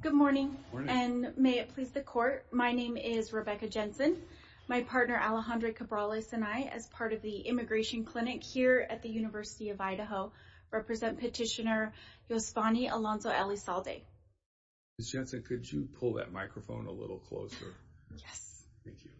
Good morning, and may it please the court. My name is Rebecca Jensen. My partner Alejandro Cabrales and I, as part of the Immigration Clinic here at the University of Idaho, represent petitioner Yosvany Alonso Elizalde. Ms. Jensen, could you pull that microphone a little closer? Yes. Thank you.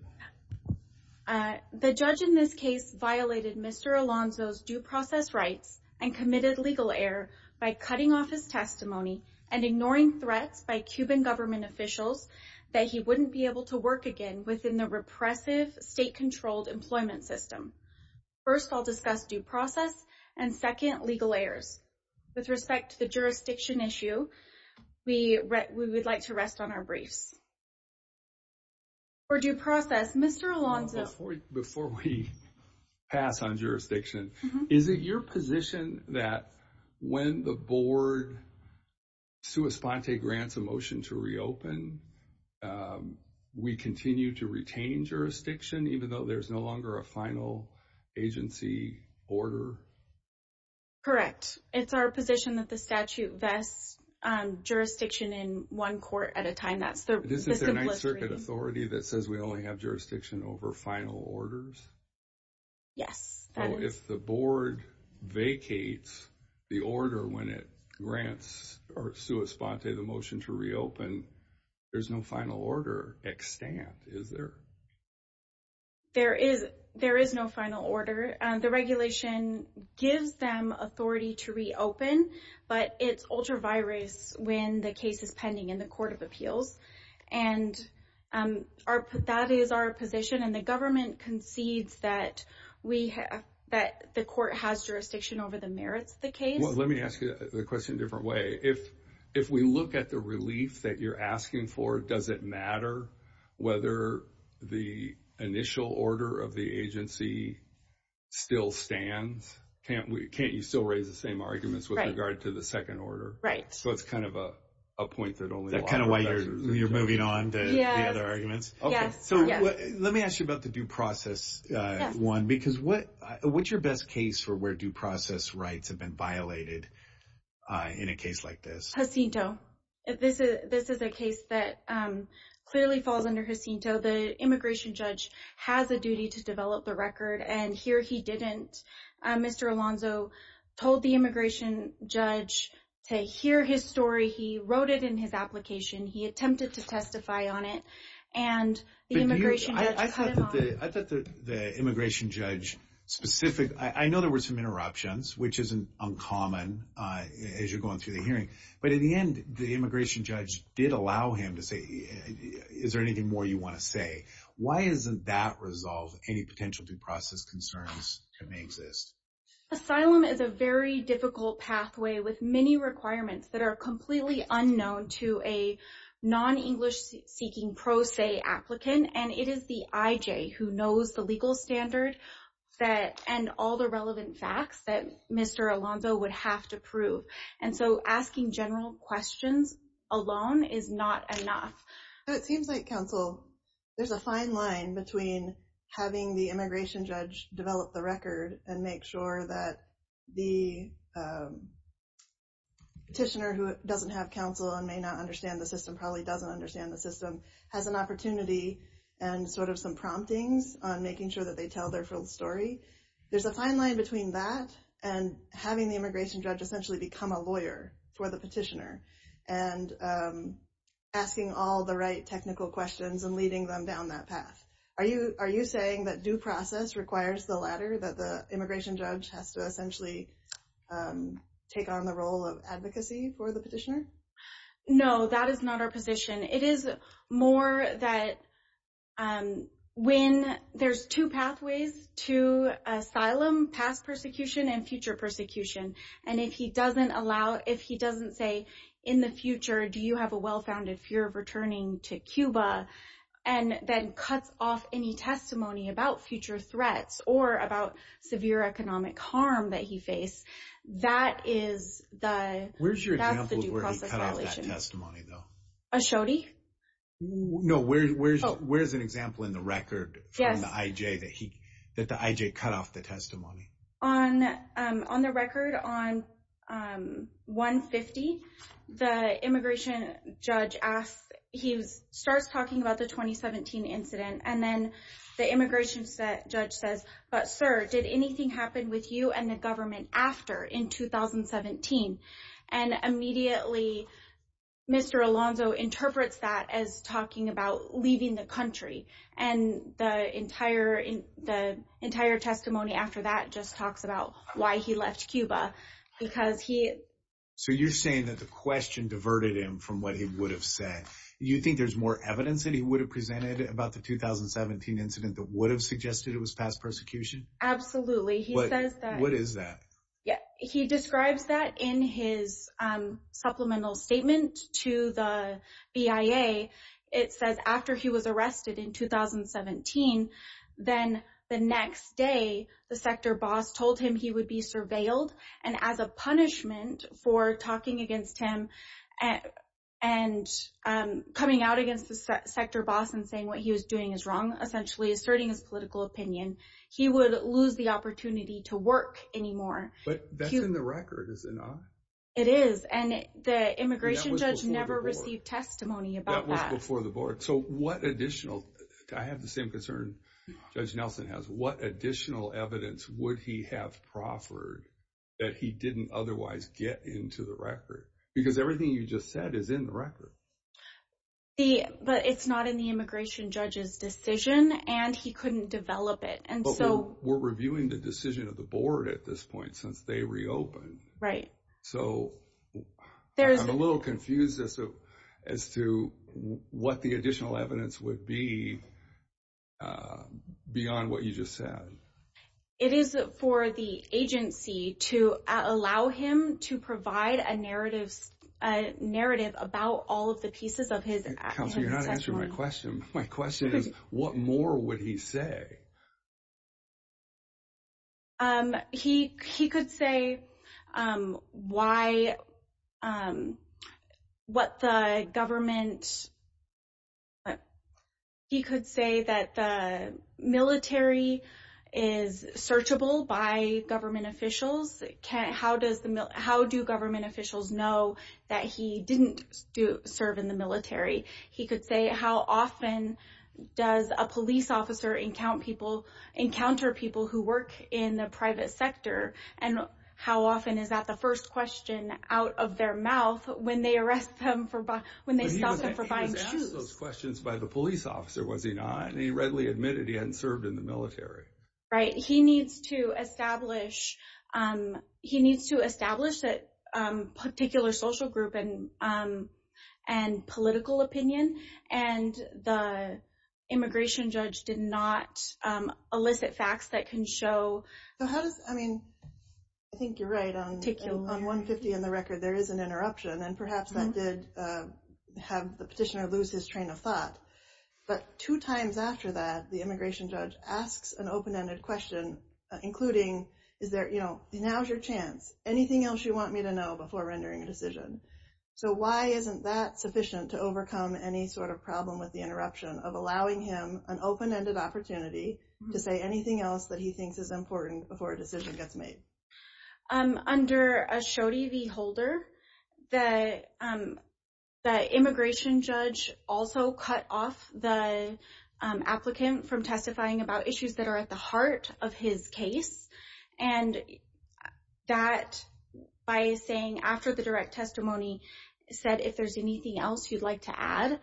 The judge in this case violated Mr. Alonso's due process rights and committed legal error by cutting off his testimony and ignoring threats by Cuban government officials that he wouldn't be able to work again within the repressive state-controlled employment system. First, I'll discuss due process and second, legal errors. With respect to the jurisdiction issue, we would like to rest on our briefs. For due process, Mr. Alonso Before we pass on jurisdiction, is it your position that when the board sua sponte grants a motion to reopen, we continue to retain jurisdiction even though there's no longer a final agency order? Correct. It's our position that the statute vests jurisdiction in one court at a time. This is the Ninth Circuit authority that says we only have jurisdiction over final orders? Yes, that is. So if the board vacates the order when it grants or sua sponte the motion to reopen, there's no final order extant, is there? There is no final order. The regulation gives them authority to reopen, but it's ultra virus when the case is pending in the court of appeals. That is our position and the government concedes that the court has jurisdiction over the merits of the case. Let me ask you the question in a different way. If we look at the relief that you're asking for, does it matter whether the initial order of the agency still stands? Can't you still raise the same arguments with regard to the second order? Right. So it's kind of a point that only... That's kind of why you're moving on to the other arguments? Yes. So let me ask you about the due process one, because what's your best case for where due process rights have been violated in a case like this? Jacinto. This is a case that clearly falls under Jacinto. The immigration judge has a duty to develop the to hear his story. He wrote it in his application. He attempted to testify on it and the immigration judge... I thought that the immigration judge specific... I know there were some interruptions, which isn't uncommon as you're going through the hearing, but in the end, the immigration judge did allow him to say, is there anything more you want to say? Why isn't that resolved? Any requirements that are completely unknown to a non-English-seeking pro se applicant, and it is the IJ who knows the legal standard and all the relevant facts that Mr. Alonzo would have to prove. And so asking general questions alone is not enough. It seems like, counsel, there's a fine between having the immigration judge develop the record and make sure that the petitioner who doesn't have counsel and may not understand the system, probably doesn't understand the system, has an opportunity and sort of some promptings on making sure that they tell their full story. There's a fine line between that and having the immigration judge essentially become a lawyer for the petitioner and asking all the right technical questions and leading them down that path. Are you saying that due process requires the latter, that the immigration judge has to essentially take on the role of advocacy for the petitioner? No, that is not our position. It is more that when... There's two pathways to asylum, past persecution and future persecution. And if he doesn't allow, if he doesn't say, in the future, do you have a well-founded fear of returning to Cuba, and then cuts off any testimony about future threats or about severe economic harm that he faced, that is the... Where's your example of where he cut off that testimony, though? Ashodi? No, where's an example in the record from the IJ that the IJ cut off the testimony? On the record, on 150, the immigration judge asks... He starts talking about the 2017 incident, and then the immigration judge says, but sir, did anything happen with you and the government after in 2017? And immediately, Mr. Alonzo interprets that as talking about leaving the why he left Cuba, because he... So you're saying that the question diverted him from what he would have said. You think there's more evidence that he would have presented about the 2017 incident that would have suggested it was past persecution? Absolutely. He says that... What is that? Yeah, he describes that in his supplemental statement to the BIA. It says after he was told he would be surveilled, and as a punishment for talking against him and coming out against the sector boss and saying what he was doing is wrong, essentially asserting his political opinion, he would lose the opportunity to work anymore. But that's in the record, is it not? It is, and the immigration judge never received testimony about that. That was before the board. So what additional... I have the same concern Judge Nelson has. What additional evidence would he have proffered that he didn't otherwise get into the record? Because everything you just said is in the record. But it's not in the immigration judge's decision, and he couldn't develop it. And so... But we're reviewing the decision of the board at this point since they reopened. Right. So I'm a little confused as to what the additional evidence would be beyond what you just said. It is for the agency to allow him to provide a narrative about all of the pieces of his testimony. Counselor, you're not answering my question. My question is, what more would he say? He could say why... What the government... He could say that the military is searchable by government officials. How do government officials know that he didn't serve in the military? He could say how often does a police officer encounter people who work in the private sector, and how often is that the first question out of their mouth when they arrest them for... When they stop them for buying shoes. But he was asked those questions by the police officer, was he not? And he readily admitted he hadn't served in the military. Right. He needs to establish... He needs to establish that particular social group and political opinion. And the immigration judge did not elicit facts that can show... I mean, I think you're right. On 150 and the record, there is an interruption. And perhaps that did have the petitioner lose his train of thought. But two times after that, the immigration judge asks an open-ended question, including, is there... Now's your chance. Anything else you want me to know before rendering a decision? So why isn't that sufficient to overcome any sort of problem with the interruption of allowing him an open-ended opportunity to say anything else that he thinks is important before a decision gets made? Under a Shodi v. Holder, the immigration judge also cut off the applicant from testifying about saying, after the direct testimony, said, if there's anything else you'd like to add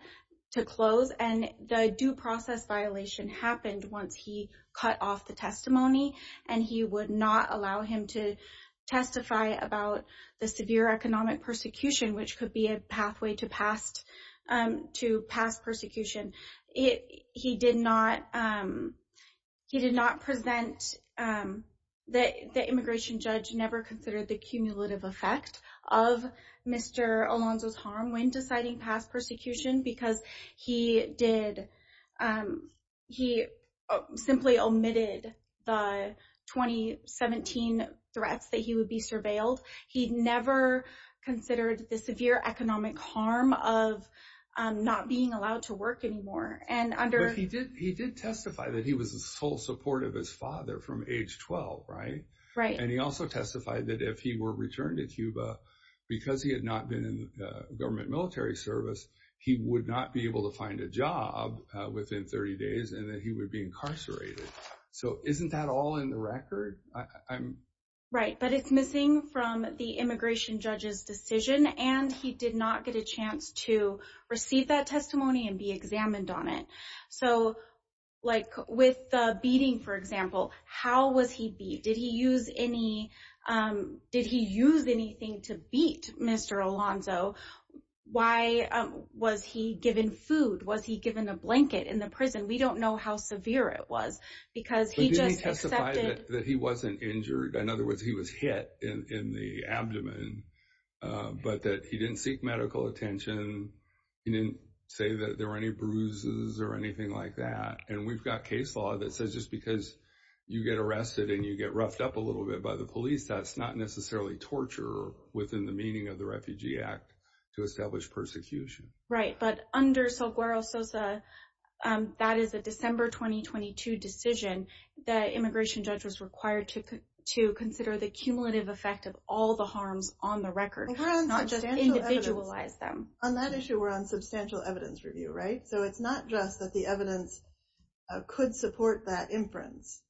to close. And the due process violation happened once he cut off the testimony. And he would not allow him to testify about the severe economic persecution, which could be a pathway to past persecution. He did not present... The immigration judge never considered the cumulative effect of Mr. Alonzo's harm when deciding past persecution because he simply omitted the 2017 threats that he would be surveilled. He never considered the severe economic harm of not being allowed to work anymore. But he did testify that he was a sole support of his father from age 12, right? Right. And he also testified that if he were returned to Cuba, because he had not been in government military service, he would not be able to find a job within 30 days, and that he would be incarcerated. So isn't that all in the record? Right. But it's missing from the immigration judge's decision, and he did not get a chance to receive that testimony and be examined on it. So with the beating, for example, how was he beat? Did he use anything to beat Mr. Alonzo? Why was he given food? Was he given a blanket in the prison? We don't know how severe it was because he just accepted... But didn't he testify that he wasn't injured? In other words, he was hit in the abdomen, but that he didn't seek medical attention. He didn't say that there were any bruises or anything like that. And we've got case law that says just because you get arrested and you get roughed up a little bit by the police, that's not necessarily torture within the meaning of the Refugee Act to establish persecution. Right. But under Salguero-Sosa, that is a December 2022 decision, the immigration judge was required to consider the cumulative effect of all the harms on the record, not just individualize them. On that issue, we're on substantial evidence review, right? So it's not just that the evidence could support that inference.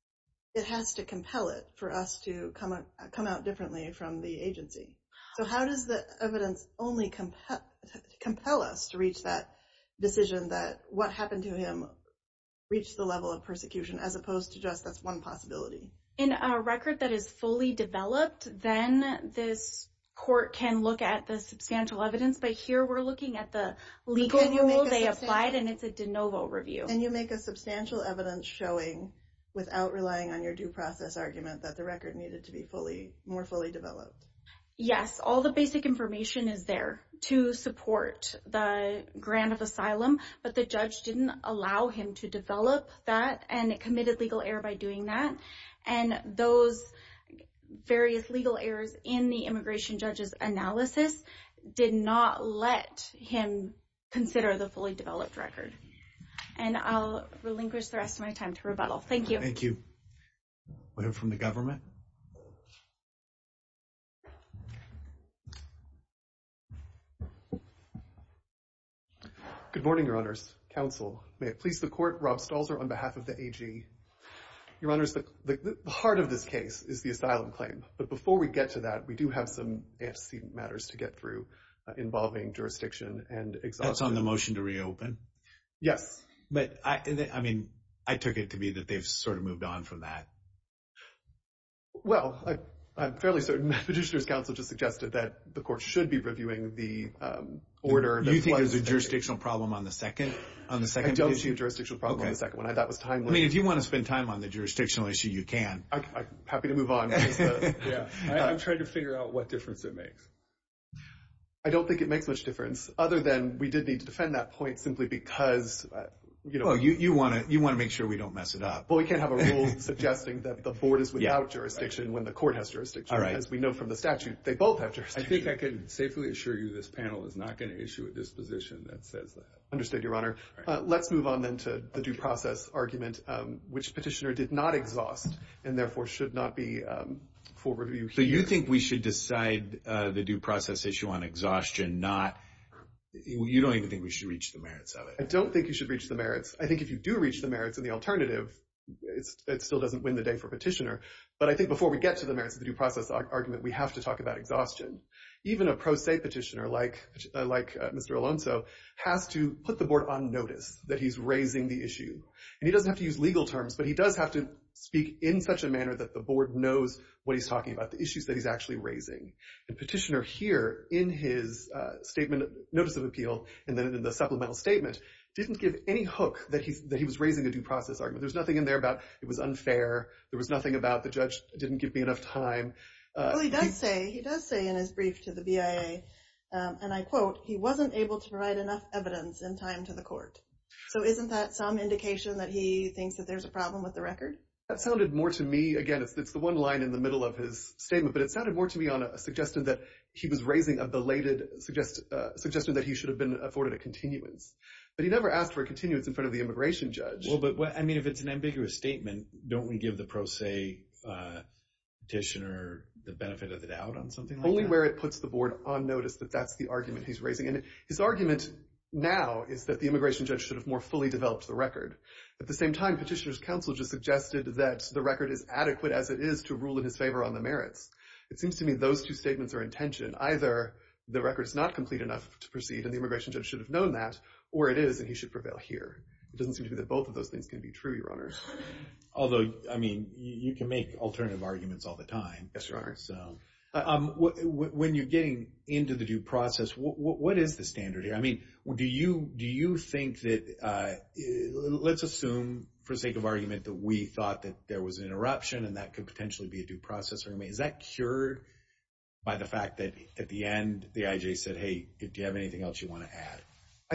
It has to compel it for us to come out differently from the agency. So how does the evidence only compel us to reach that decision that what happened to him reached the level of persecution as opposed to just that's one possibility? In a record that is fully developed, then this court can look at the substantial evidence. But here we're looking at the legal rules they applied and it's a de novo review. And you make a substantial evidence showing without relying on your due process argument that the record needed to be more fully developed. Yes. All the basic information is there to support the grant of asylum, but the judge didn't allow him to develop that and it committed legal error by doing that. And those various legal errors in the immigration judge's analysis did not let him consider the fully developed record. And I'll relinquish the rest of my time to rebuttal. Thank you. Thank you. We have from the government. Good morning, Your Honors. Counsel, may it please the court, Rob Stalzer on behalf of the AG. Your Honors, the heart of this case is the asylum claim. But before we get to that, we do have some antecedent matters to get through involving jurisdiction and exhaustion. That's on the motion to reopen? Yes. But I mean, I took it to be that they've sort of moved on from that. that the court should be reviewing the order. You think there's a jurisdictional problem on the second? I don't see a jurisdictional problem on the second one. I mean, if you want to spend time on the jurisdictional issue, you can. I'm happy to move on. Yeah, I'm trying to figure out what difference it makes. I don't think it makes much difference other than we did need to defend that point simply because, you know, you want to you want to make sure we don't mess it up. Well, we can't have a rule suggesting that the board is without jurisdiction when the court has statute. They both have jurisdiction. I think I can safely assure you this panel is not going to issue a disposition that says that. Understood, Your Honor. Let's move on, then, to the due process argument, which petitioner did not exhaust and therefore should not be for review. So you think we should decide the due process issue on exhaustion, not you don't even think we should reach the merits of it? I don't think you should reach the merits. I think if you do reach the merits and the alternative, it still doesn't win the day for petitioner. But I think before we get to the merits of the due process argument, we have to talk about exhaustion. Even a pro se petitioner like Mr. Alonso has to put the board on notice that he's raising the issue. And he doesn't have to use legal terms, but he does have to speak in such a manner that the board knows what he's talking about, the issues that he's actually raising. The petitioner here in his statement, notice of appeal, and then in the supplemental statement, didn't give any hook that he was raising a due process argument. There's nothing in there about it was unfair. There was nothing about the judge didn't give me enough time. He does say in his brief to the BIA, and I quote, he wasn't able to provide enough evidence in time to the court. So isn't that some indication that he thinks that there's a problem with the record? That sounded more to me, again, it's the one line in the middle of his statement, but it sounded more to me on a suggestion that he was raising a belated suggestion that he should have been afforded a continuance. But he never asked for a continuance in front of the immigration judge. Well, but I mean, if it's an ambiguous statement, don't we give the pro se petitioner the benefit of the doubt on something like that? Only where it puts the board on notice that that's the argument he's raising. And his argument now is that the immigration judge should have more fully developed the record. At the same time, Petitioner's counsel just suggested that the record is adequate as it is to rule in his favor on the merits. It seems to me those two statements are in tension. Either the record is not complete enough to proceed and the immigration judge should have known that, or it is and he should prevail here. It doesn't seem to me that both of those things can be true, your honor. Although, I mean, you can make alternative arguments all the time. Yes, your honor. So when you're getting into the due process, what is the standard here? I mean, do you think that, let's assume for sake of argument that we thought that there was an interruption and that could potentially be a due process. Is that cured by the fact that at the end the IJ said, hey, do you have anything else you want to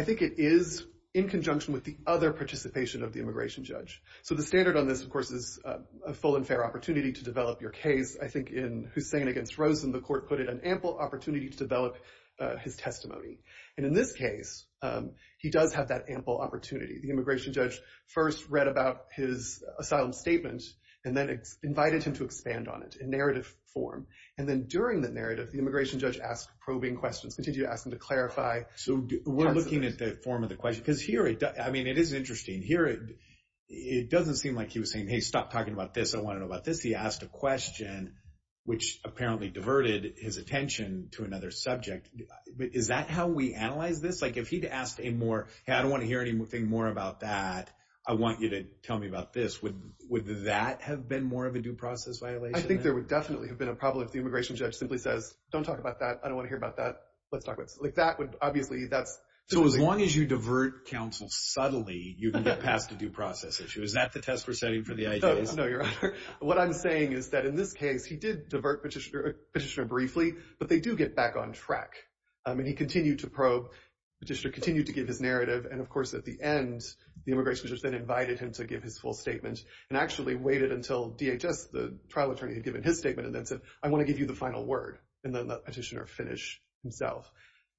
do? It is in conjunction with the other participation of the immigration judge. So the standard on this, of course, is a full and fair opportunity to develop your case. I think in Hussain against Rosen, the court put it an ample opportunity to develop his testimony. And in this case, he does have that ample opportunity. The immigration judge first read about his asylum statement and then invited him to expand on it in narrative form. And then during the narrative, the immigration judge asked probing questions, continued to ask him to clarify. So we're looking at the form of the question because here, I mean, it is interesting here. It doesn't seem like he was saying, hey, stop talking about this. I want to know about this. He asked a question which apparently diverted his attention to another subject. Is that how we analyze this? Like if he'd asked a more, hey, I don't want to hear anything more about that. I want you to tell me about this. Would that have been more of a due process violation? I think there would definitely have been a problem if the immigration judge simply says, don't talk about that. I don't want to hear about that. Let's talk about it. Like that would obviously, that's. So as long as you divert counsel subtly, you can get past the due process issue. Is that the test we're setting for the IJs? No, your honor. What I'm saying is that in this case, he did divert petitioner briefly, but they do get back on track. I mean, he continued to probe, petitioner continued to give his narrative. And of course, at the end, the immigration judge then invited him to give his full statement and actually waited until DHS, the trial attorney, had given his statement and then said, I want to give you the final word. And then the petitioner finished himself.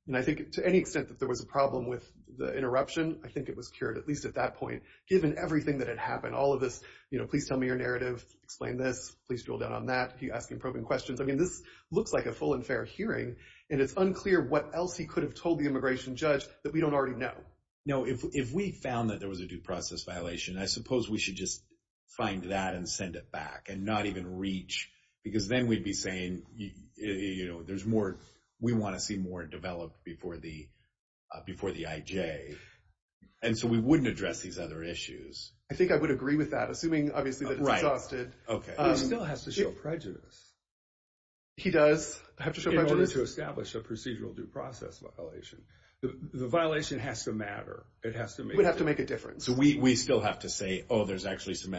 And I think to any extent that there was a problem with the interruption, I think it was cured, at least at that point, given everything that had happened, all of this, you know, please tell me your narrative, explain this, please drill down on that. He asked him probing questions. I mean, this looks like a full and fair hearing, and it's unclear what else he could have told the immigration judge that we don't already know. No, if we found that there was a due process violation, I suppose we should just find that and send it back and not even reach, because then we'd be saying, you know, there's more, we want to see more developed before the IJ. And so we wouldn't address these other issues. I think I would agree with that, assuming, obviously, that it's adjusted. Right. Okay. He still has to show prejudice. He does have to show prejudice. In order to establish a procedural due process violation. The violation has to matter. It has to make... It would have to make a difference. So we still have to say, oh, there's actually some So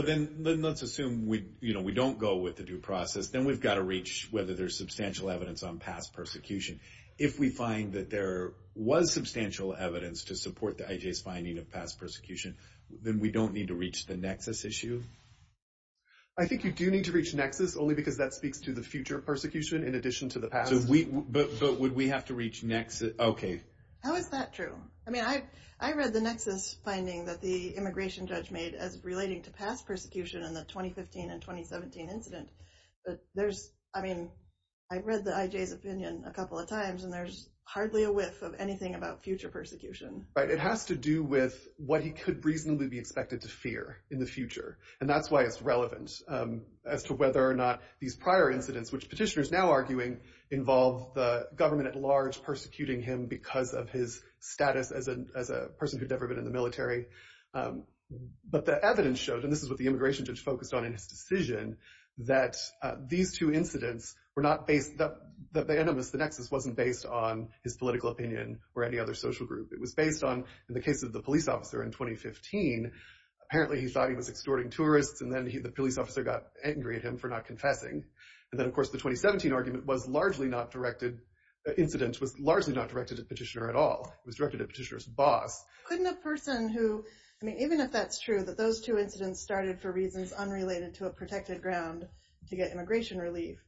then let's assume we, you know, we don't go with the due process, then we've got to reach whether there's substantial evidence on past persecution. If we find that there was substantial evidence to support the IJ's finding of past persecution, then we don't need to reach the nexus issue. I think you do need to reach nexus only because that speaks to the future persecution in addition to the past. But would we have to reach nexus? Okay. How is that true? I mean, I read the nexus finding that the immigration judge made as relating to past persecution in the 2015 and 2017 incident. But there's, I mean, I read the IJ's opinion a couple of times and there's hardly a whiff of anything about future persecution. Right. It has to do with what he could reasonably be expected to fear in the future. And that's why it's relevant as to whether or not these prior incidents, which petitioners now arguing, involve the government at large persecuting him because of his status as a person who'd never been in the military. But the evidence showed, and this is what the immigration judge focused on in his decision, that these two incidents were not based, that the animus, the nexus, wasn't based on his political opinion or any other social group. It was based on, in the case of the police officer in 2015, apparently he thought he was extorting tourists and then the police officer got angry at him for not confessing. And then of course, the 2017 argument was largely not directed, the incident was largely not directed at petitioner at all. It was directed at petitioner's boss. Couldn't a person who, I mean, even if that's true, that those two incidents started for reasons unrelated to a protected ground to get immigration relief,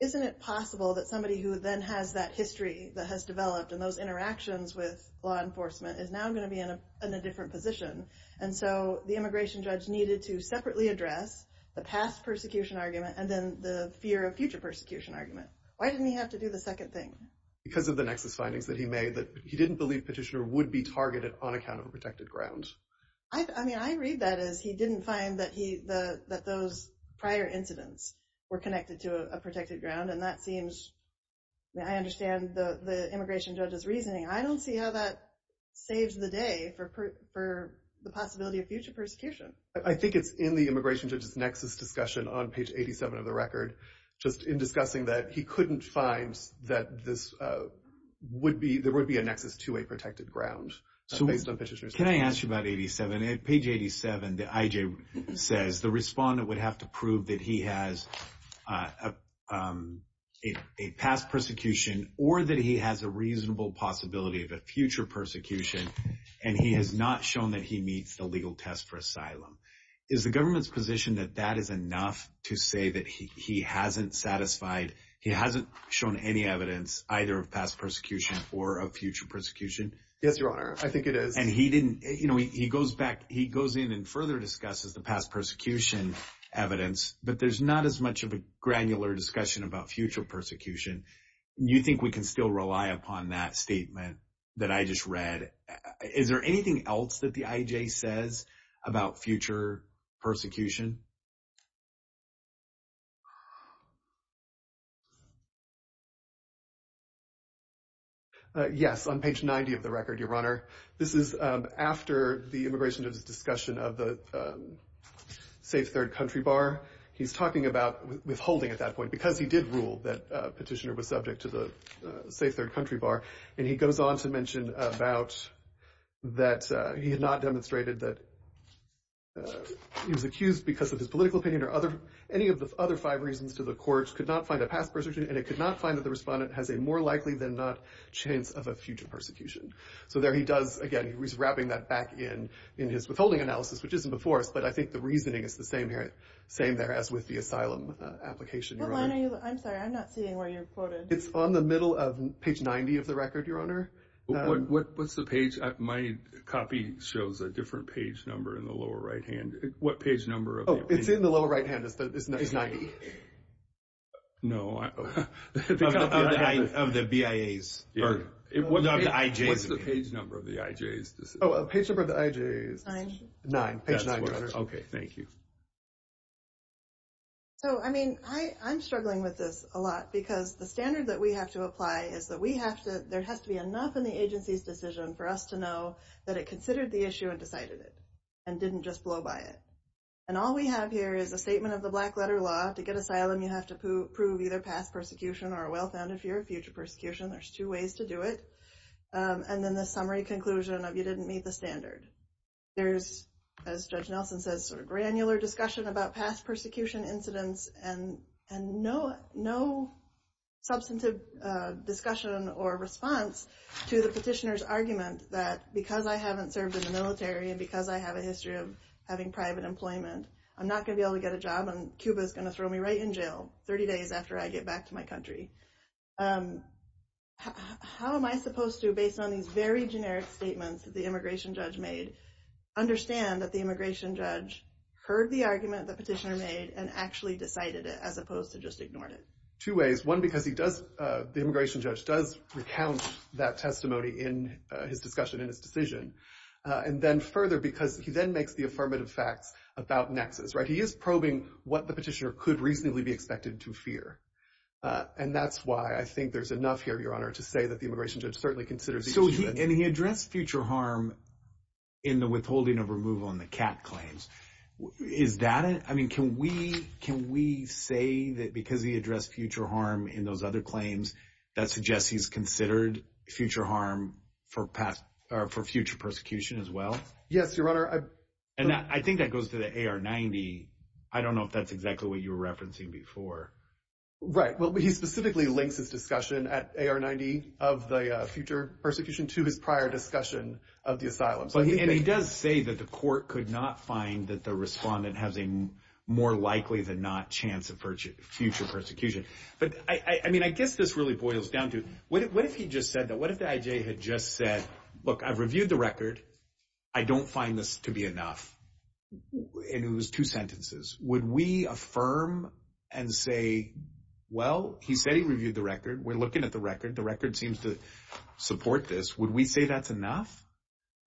isn't it possible that somebody who then has that history that has developed and those interactions with law enforcement is now going to be in a different position. And so the immigration judge needed to separately address the past persecution argument and then the fear of future persecution argument. Why didn't he have to do the second thing? Because of the nexus findings that he made, that he didn't believe petitioner would be targeted on account of a protected ground. I mean, I read that as he didn't find that those prior incidents were connected to a protected ground. And that seems, I understand the immigration judge's reasoning. I don't see how that saves the day for the possibility of future persecution. I think it's in the immigration judge's nexus discussion on page 87 of the record, just in discussing that he couldn't find that this would be, there would be a nexus to a protected ground. Can I ask you about 87? At page 87, the IJ says the respondent would have to prove that he has a past persecution or that he has a reasonable possibility of a future persecution and he has not shown that he is satisfied. He hasn't shown any evidence either of past persecution or of future persecution. Yes, your honor. I think it is. And he didn't, you know, he goes back, he goes in and further discusses the past persecution evidence, but there's not as much of a granular discussion about future persecution. You think we can still rely upon that statement that I just read? Is there anything else that the IJ says about future persecution? Yes, on page 90 of the record, your honor. This is after the immigration judge's discussion of the safe third country bar. He's talking about withholding at that point, because he did rule that petitioner was subject to the safe third country bar. And he goes on to mention about that he had not demonstrated that he was accused because of his political opinion or other, any of the other five reasons to the court could not find a past persecution and it could not find that the respondent has a more likely than not chance of a future persecution. So there he does, again, he's wrapping that back in his withholding analysis, which isn't before us, but I think the reasoning is the same here, same there as with the asylum application. I'm sorry, I'm not seeing where you're quoted. It's on the middle of page 90 of the record, your honor. What's the page? My copy shows a different page number in the lower right hand. What page number? Oh, it's in the lower right hand. It's 90. No. Of the BIAs. What's the page number of the IJs? Oh, page number of the IJs. Nine. Nine, page nine, your honor. Okay, thank you. So, I mean, I'm struggling with this a lot because the standard that we have to apply is that we have to, there has to be enough in the agency's decision for us to know that it considered the issue and decided it and didn't just blow by it. And all we have here is a statement of the black letter law to get asylum. You have to prove either past persecution or a well-founded fear of future persecution. There's two ways to do it. And then the summary conclusion of you says sort of granular discussion about past persecution incidents and no substantive discussion or response to the petitioner's argument that because I haven't served in the military and because I have a history of having private employment, I'm not going to be able to get a job and Cuba's going to throw me right in jail 30 days after I get back to my country. How am I supposed to, based on these very generic statements that the immigration judge made, understand that the immigration judge heard the argument the petitioner made and actually decided it as opposed to just ignored it? Two ways. One, because he does, the immigration judge does recount that testimony in his discussion, in his decision. And then further because he then makes the affirmative facts about nexus, right? He is probing what the petitioner could reasonably be expected to fear. And that's why I think there's enough here, Your Honor, to say that immigration judge certainly considers. So he addressed future harm in the withholding of removal in the cat claims. Is that, I mean, can we, can we say that because he addressed future harm in those other claims that suggests he's considered future harm for past or for future persecution as well? Yes, Your Honor. And I think that goes to the AR-90. I don't know if that's exactly what you were referencing before. Right. Well, he specifically links his discussion at AR-90 of the future persecution to his prior discussion of the asylum. And he does say that the court could not find that the respondent has a more likely than not chance of future persecution. But I mean, I guess this really boils down to, what if he just said that? What if the IJ had just said, look, I've reviewed the record. I don't find this to be enough. And it was two sentences. Would we affirm and say, well, he said he reviewed the record. We're looking at the record. The record seems to support this. Would we say that's enough?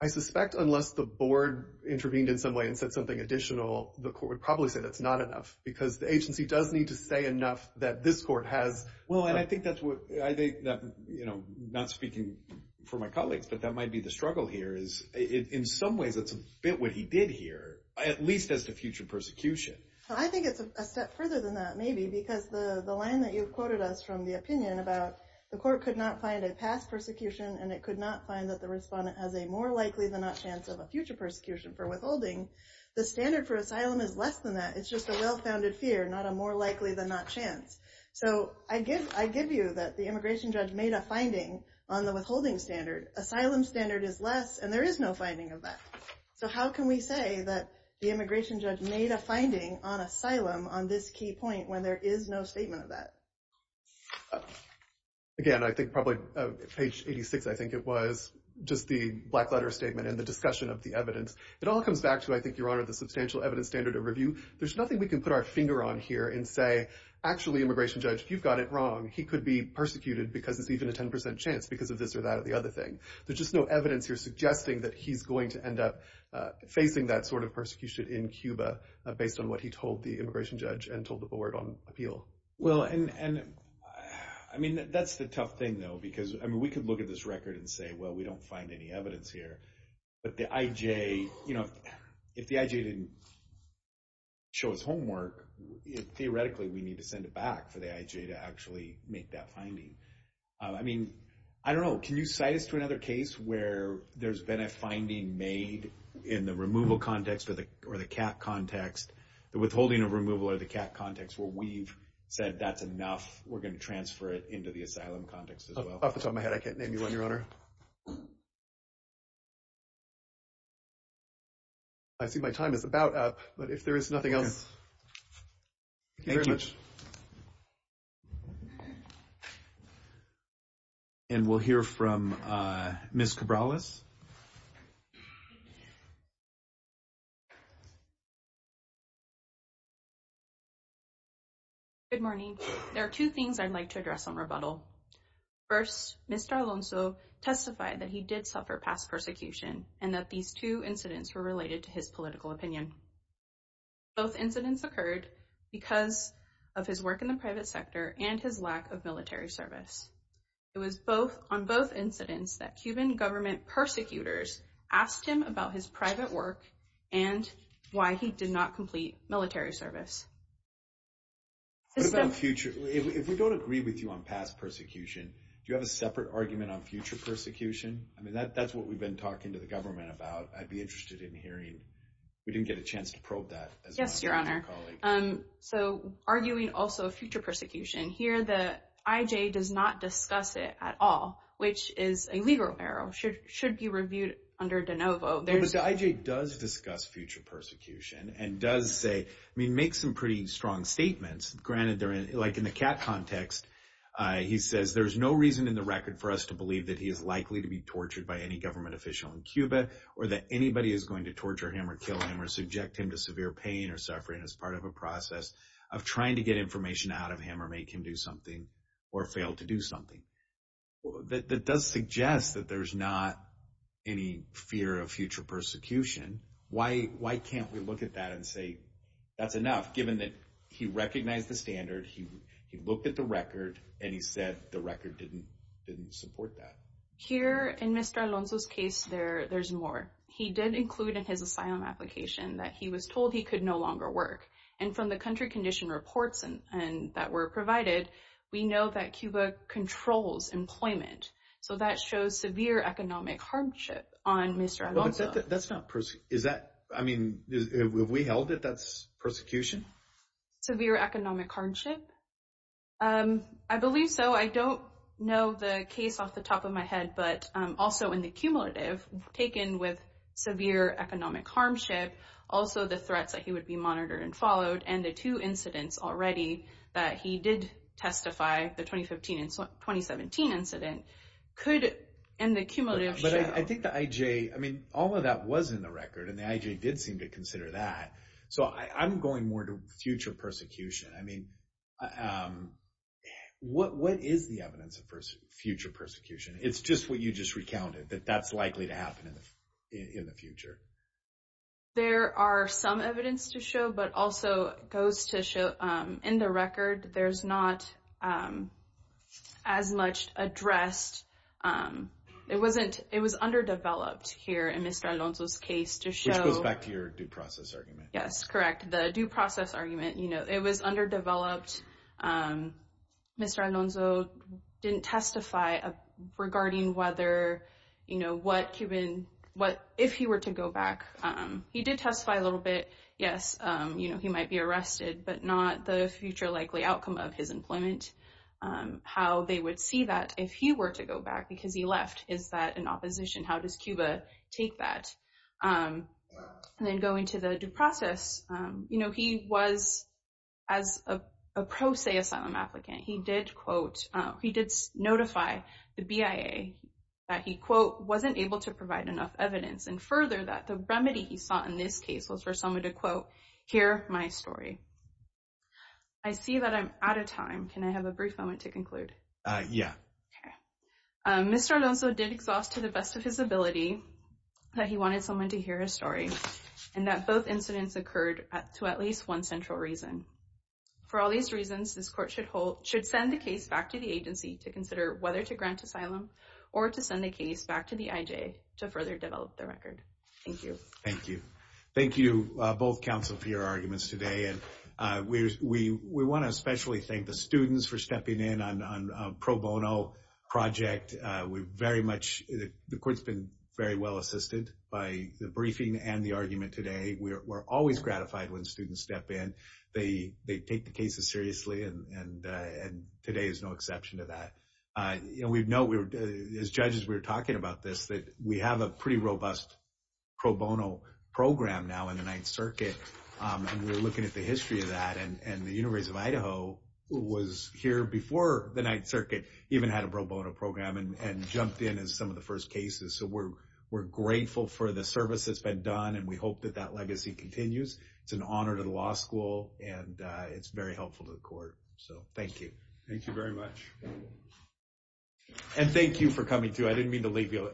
I suspect unless the board intervened in some way and said something additional, the court would probably say that's not enough, because the agency does need to say enough that this court has. Well, and I think that's what, I think that, you know, not speaking for my colleagues, but that might be the struggle here is, in some ways, that's a bit what he did here, at least as to future persecution. I think it's a step further than that, maybe, because the line that you've quoted us from the opinion about the court could not find a past persecution and it could not find that the respondent has a more likely than not chance of a future persecution for withholding, the standard for asylum is less than that. It's just a well-founded fear, not a more likely than not chance. So I give you that the immigration judge made a finding on the withholding standard. Asylum standard is less and there is no finding of that. So how can we say that the immigration judge made a finding on asylum on this key point when there is no statement of that? Again, I think probably page 86, I think it was, just the black letter statement and the discussion of the evidence. It all comes back to, I think, Your Honor, the substantial evidence standard of review. There's nothing we can put our finger on here and say, actually, immigration judge, you've got it wrong. He could be persecuted because it's even a 10% chance because of this or that or the other thing. There's just no evidence here suggesting that he's going to end up facing that sort of persecution in Cuba based on what he told the immigration judge and told the board on appeal. Well, and I mean, that's the tough thing, though, because I mean, we could look at this record and say, well, we don't find any evidence here. But the IJ, you know, if the IJ didn't show his homework, theoretically, we need to send it back for the IJ to actually make that decision. Can you cite us to another case where there's been a finding made in the removal context or the CAT context, the withholding of removal or the CAT context, where we've said that's enough, we're going to transfer it into the asylum context as well? Off the top of my head, I can't name you on, Your Honor. I see my time is about up, but if there is nothing else, thank you very much. And we'll hear from Ms. Cabrales. Good morning. There are two things I'd like to address on rebuttal. First, Mr. Alonso testified that he did suffer past persecution and that these two incidents were related to his political opinion. Both incidents occurred because of his work in the private sector and his lack of military service. It was on both incidents that Cuban government persecutors asked him about his private work and why he did not complete military service. What about future? If we don't agree with you on past persecution, do you have a separate argument on future persecution? I mean, that's what we've been talking to the government about. I'd be to probe that as well. Yes, Your Honor. Arguing also future persecution, here the IJ does not discuss it at all, which is a legal error. It should be reviewed under de novo. But the IJ does discuss future persecution and does say, I mean, make some pretty strong statements. Granted, like in the CAT context, he says there's no reason in the record for us to believe that he is likely to be tortured by any government official in Cuba or that anybody is going to him to severe pain or suffering as part of a process of trying to get information out of him or make him do something or fail to do something. That does suggest that there's not any fear of future persecution. Why can't we look at that and say that's enough, given that he recognized the standard, he looked at the record and he said the record didn't support that? Here in Mr. Alonso's there's more. He did include in his asylum application that he was told he could no longer work. And from the country condition reports that were provided, we know that Cuba controls employment. So that shows severe economic hardship on Mr. Alonso. That's not, is that, I mean, have we held that that's persecution? Severe economic hardship? I believe so. I don't know the case off the top of my head, but also in the cumulative, taken with severe economic hardship, also the threats that he would be monitored and followed and the two incidents already that he did testify, the 2015 and 2017 incident, could in the cumulative show. But I think the IJ, I mean, all of that was in the record and the IJ did seem to consider that. So I'm going more to future persecution. I mean, what is the evidence of future persecution? It's just what you just recounted, that that's likely to happen in the future. There are some evidence to show, but also goes to show in the record, there's not as much addressed. It wasn't, it was underdeveloped here in Mr. Alonso's case to show. Which goes back to your due process argument. Yes, correct. The due process argument, you know, it was underdeveloped. Mr. Alonso didn't testify regarding whether, you know, what Cuban, what if he were to go back. He did testify a little bit. Yes, you know, he might be arrested, but not the future likely outcome of his employment. How they would see that if he were to go back because he left. Is that an opposition? How does Cuba take that? And then going to the due process, you know, he was as a pro se asylum applicant. He did quote, he did notify the BIA that he quote, wasn't able to provide enough evidence and further that the remedy he saw in this case was for someone to quote, hear my story. I see that I'm out of time. Can I have a brief moment to conclude? Yeah. Okay. Mr. Alonso did exhaust to the best of his ability that he wanted someone to hear his story and that both incidents occurred to at least one central reason. For all these reasons, this court should hold, should send the case back to the agency to consider whether to grant asylum or to send the case back to the IJ to further develop their record. Thank you. Thank you. Thank you, both counsel for your arguments today. And we want to especially thank the students for stepping in on a pro bono project. We've very much, the court's been very well assisted by the briefing and the argument today. We're always gratified when students step in, they, they take the cases seriously. And, and, and today is no exception to that. You know, we've known we were, as judges, we were talking about this, that we have a pretty robust pro bono program now in the ninth circuit. And we're looking at the history of that. And, and the university of Idaho was here before the ninth circuit, even had a pro bono program and jumped in as some of the first cases. So we're, we're grateful for the service that's been done. And we hope that that legacy continues. It's an honor to the law school and it's very helpful to the court. So thank you. Thank you very much. And thank you for coming too. I didn't mean to leave you.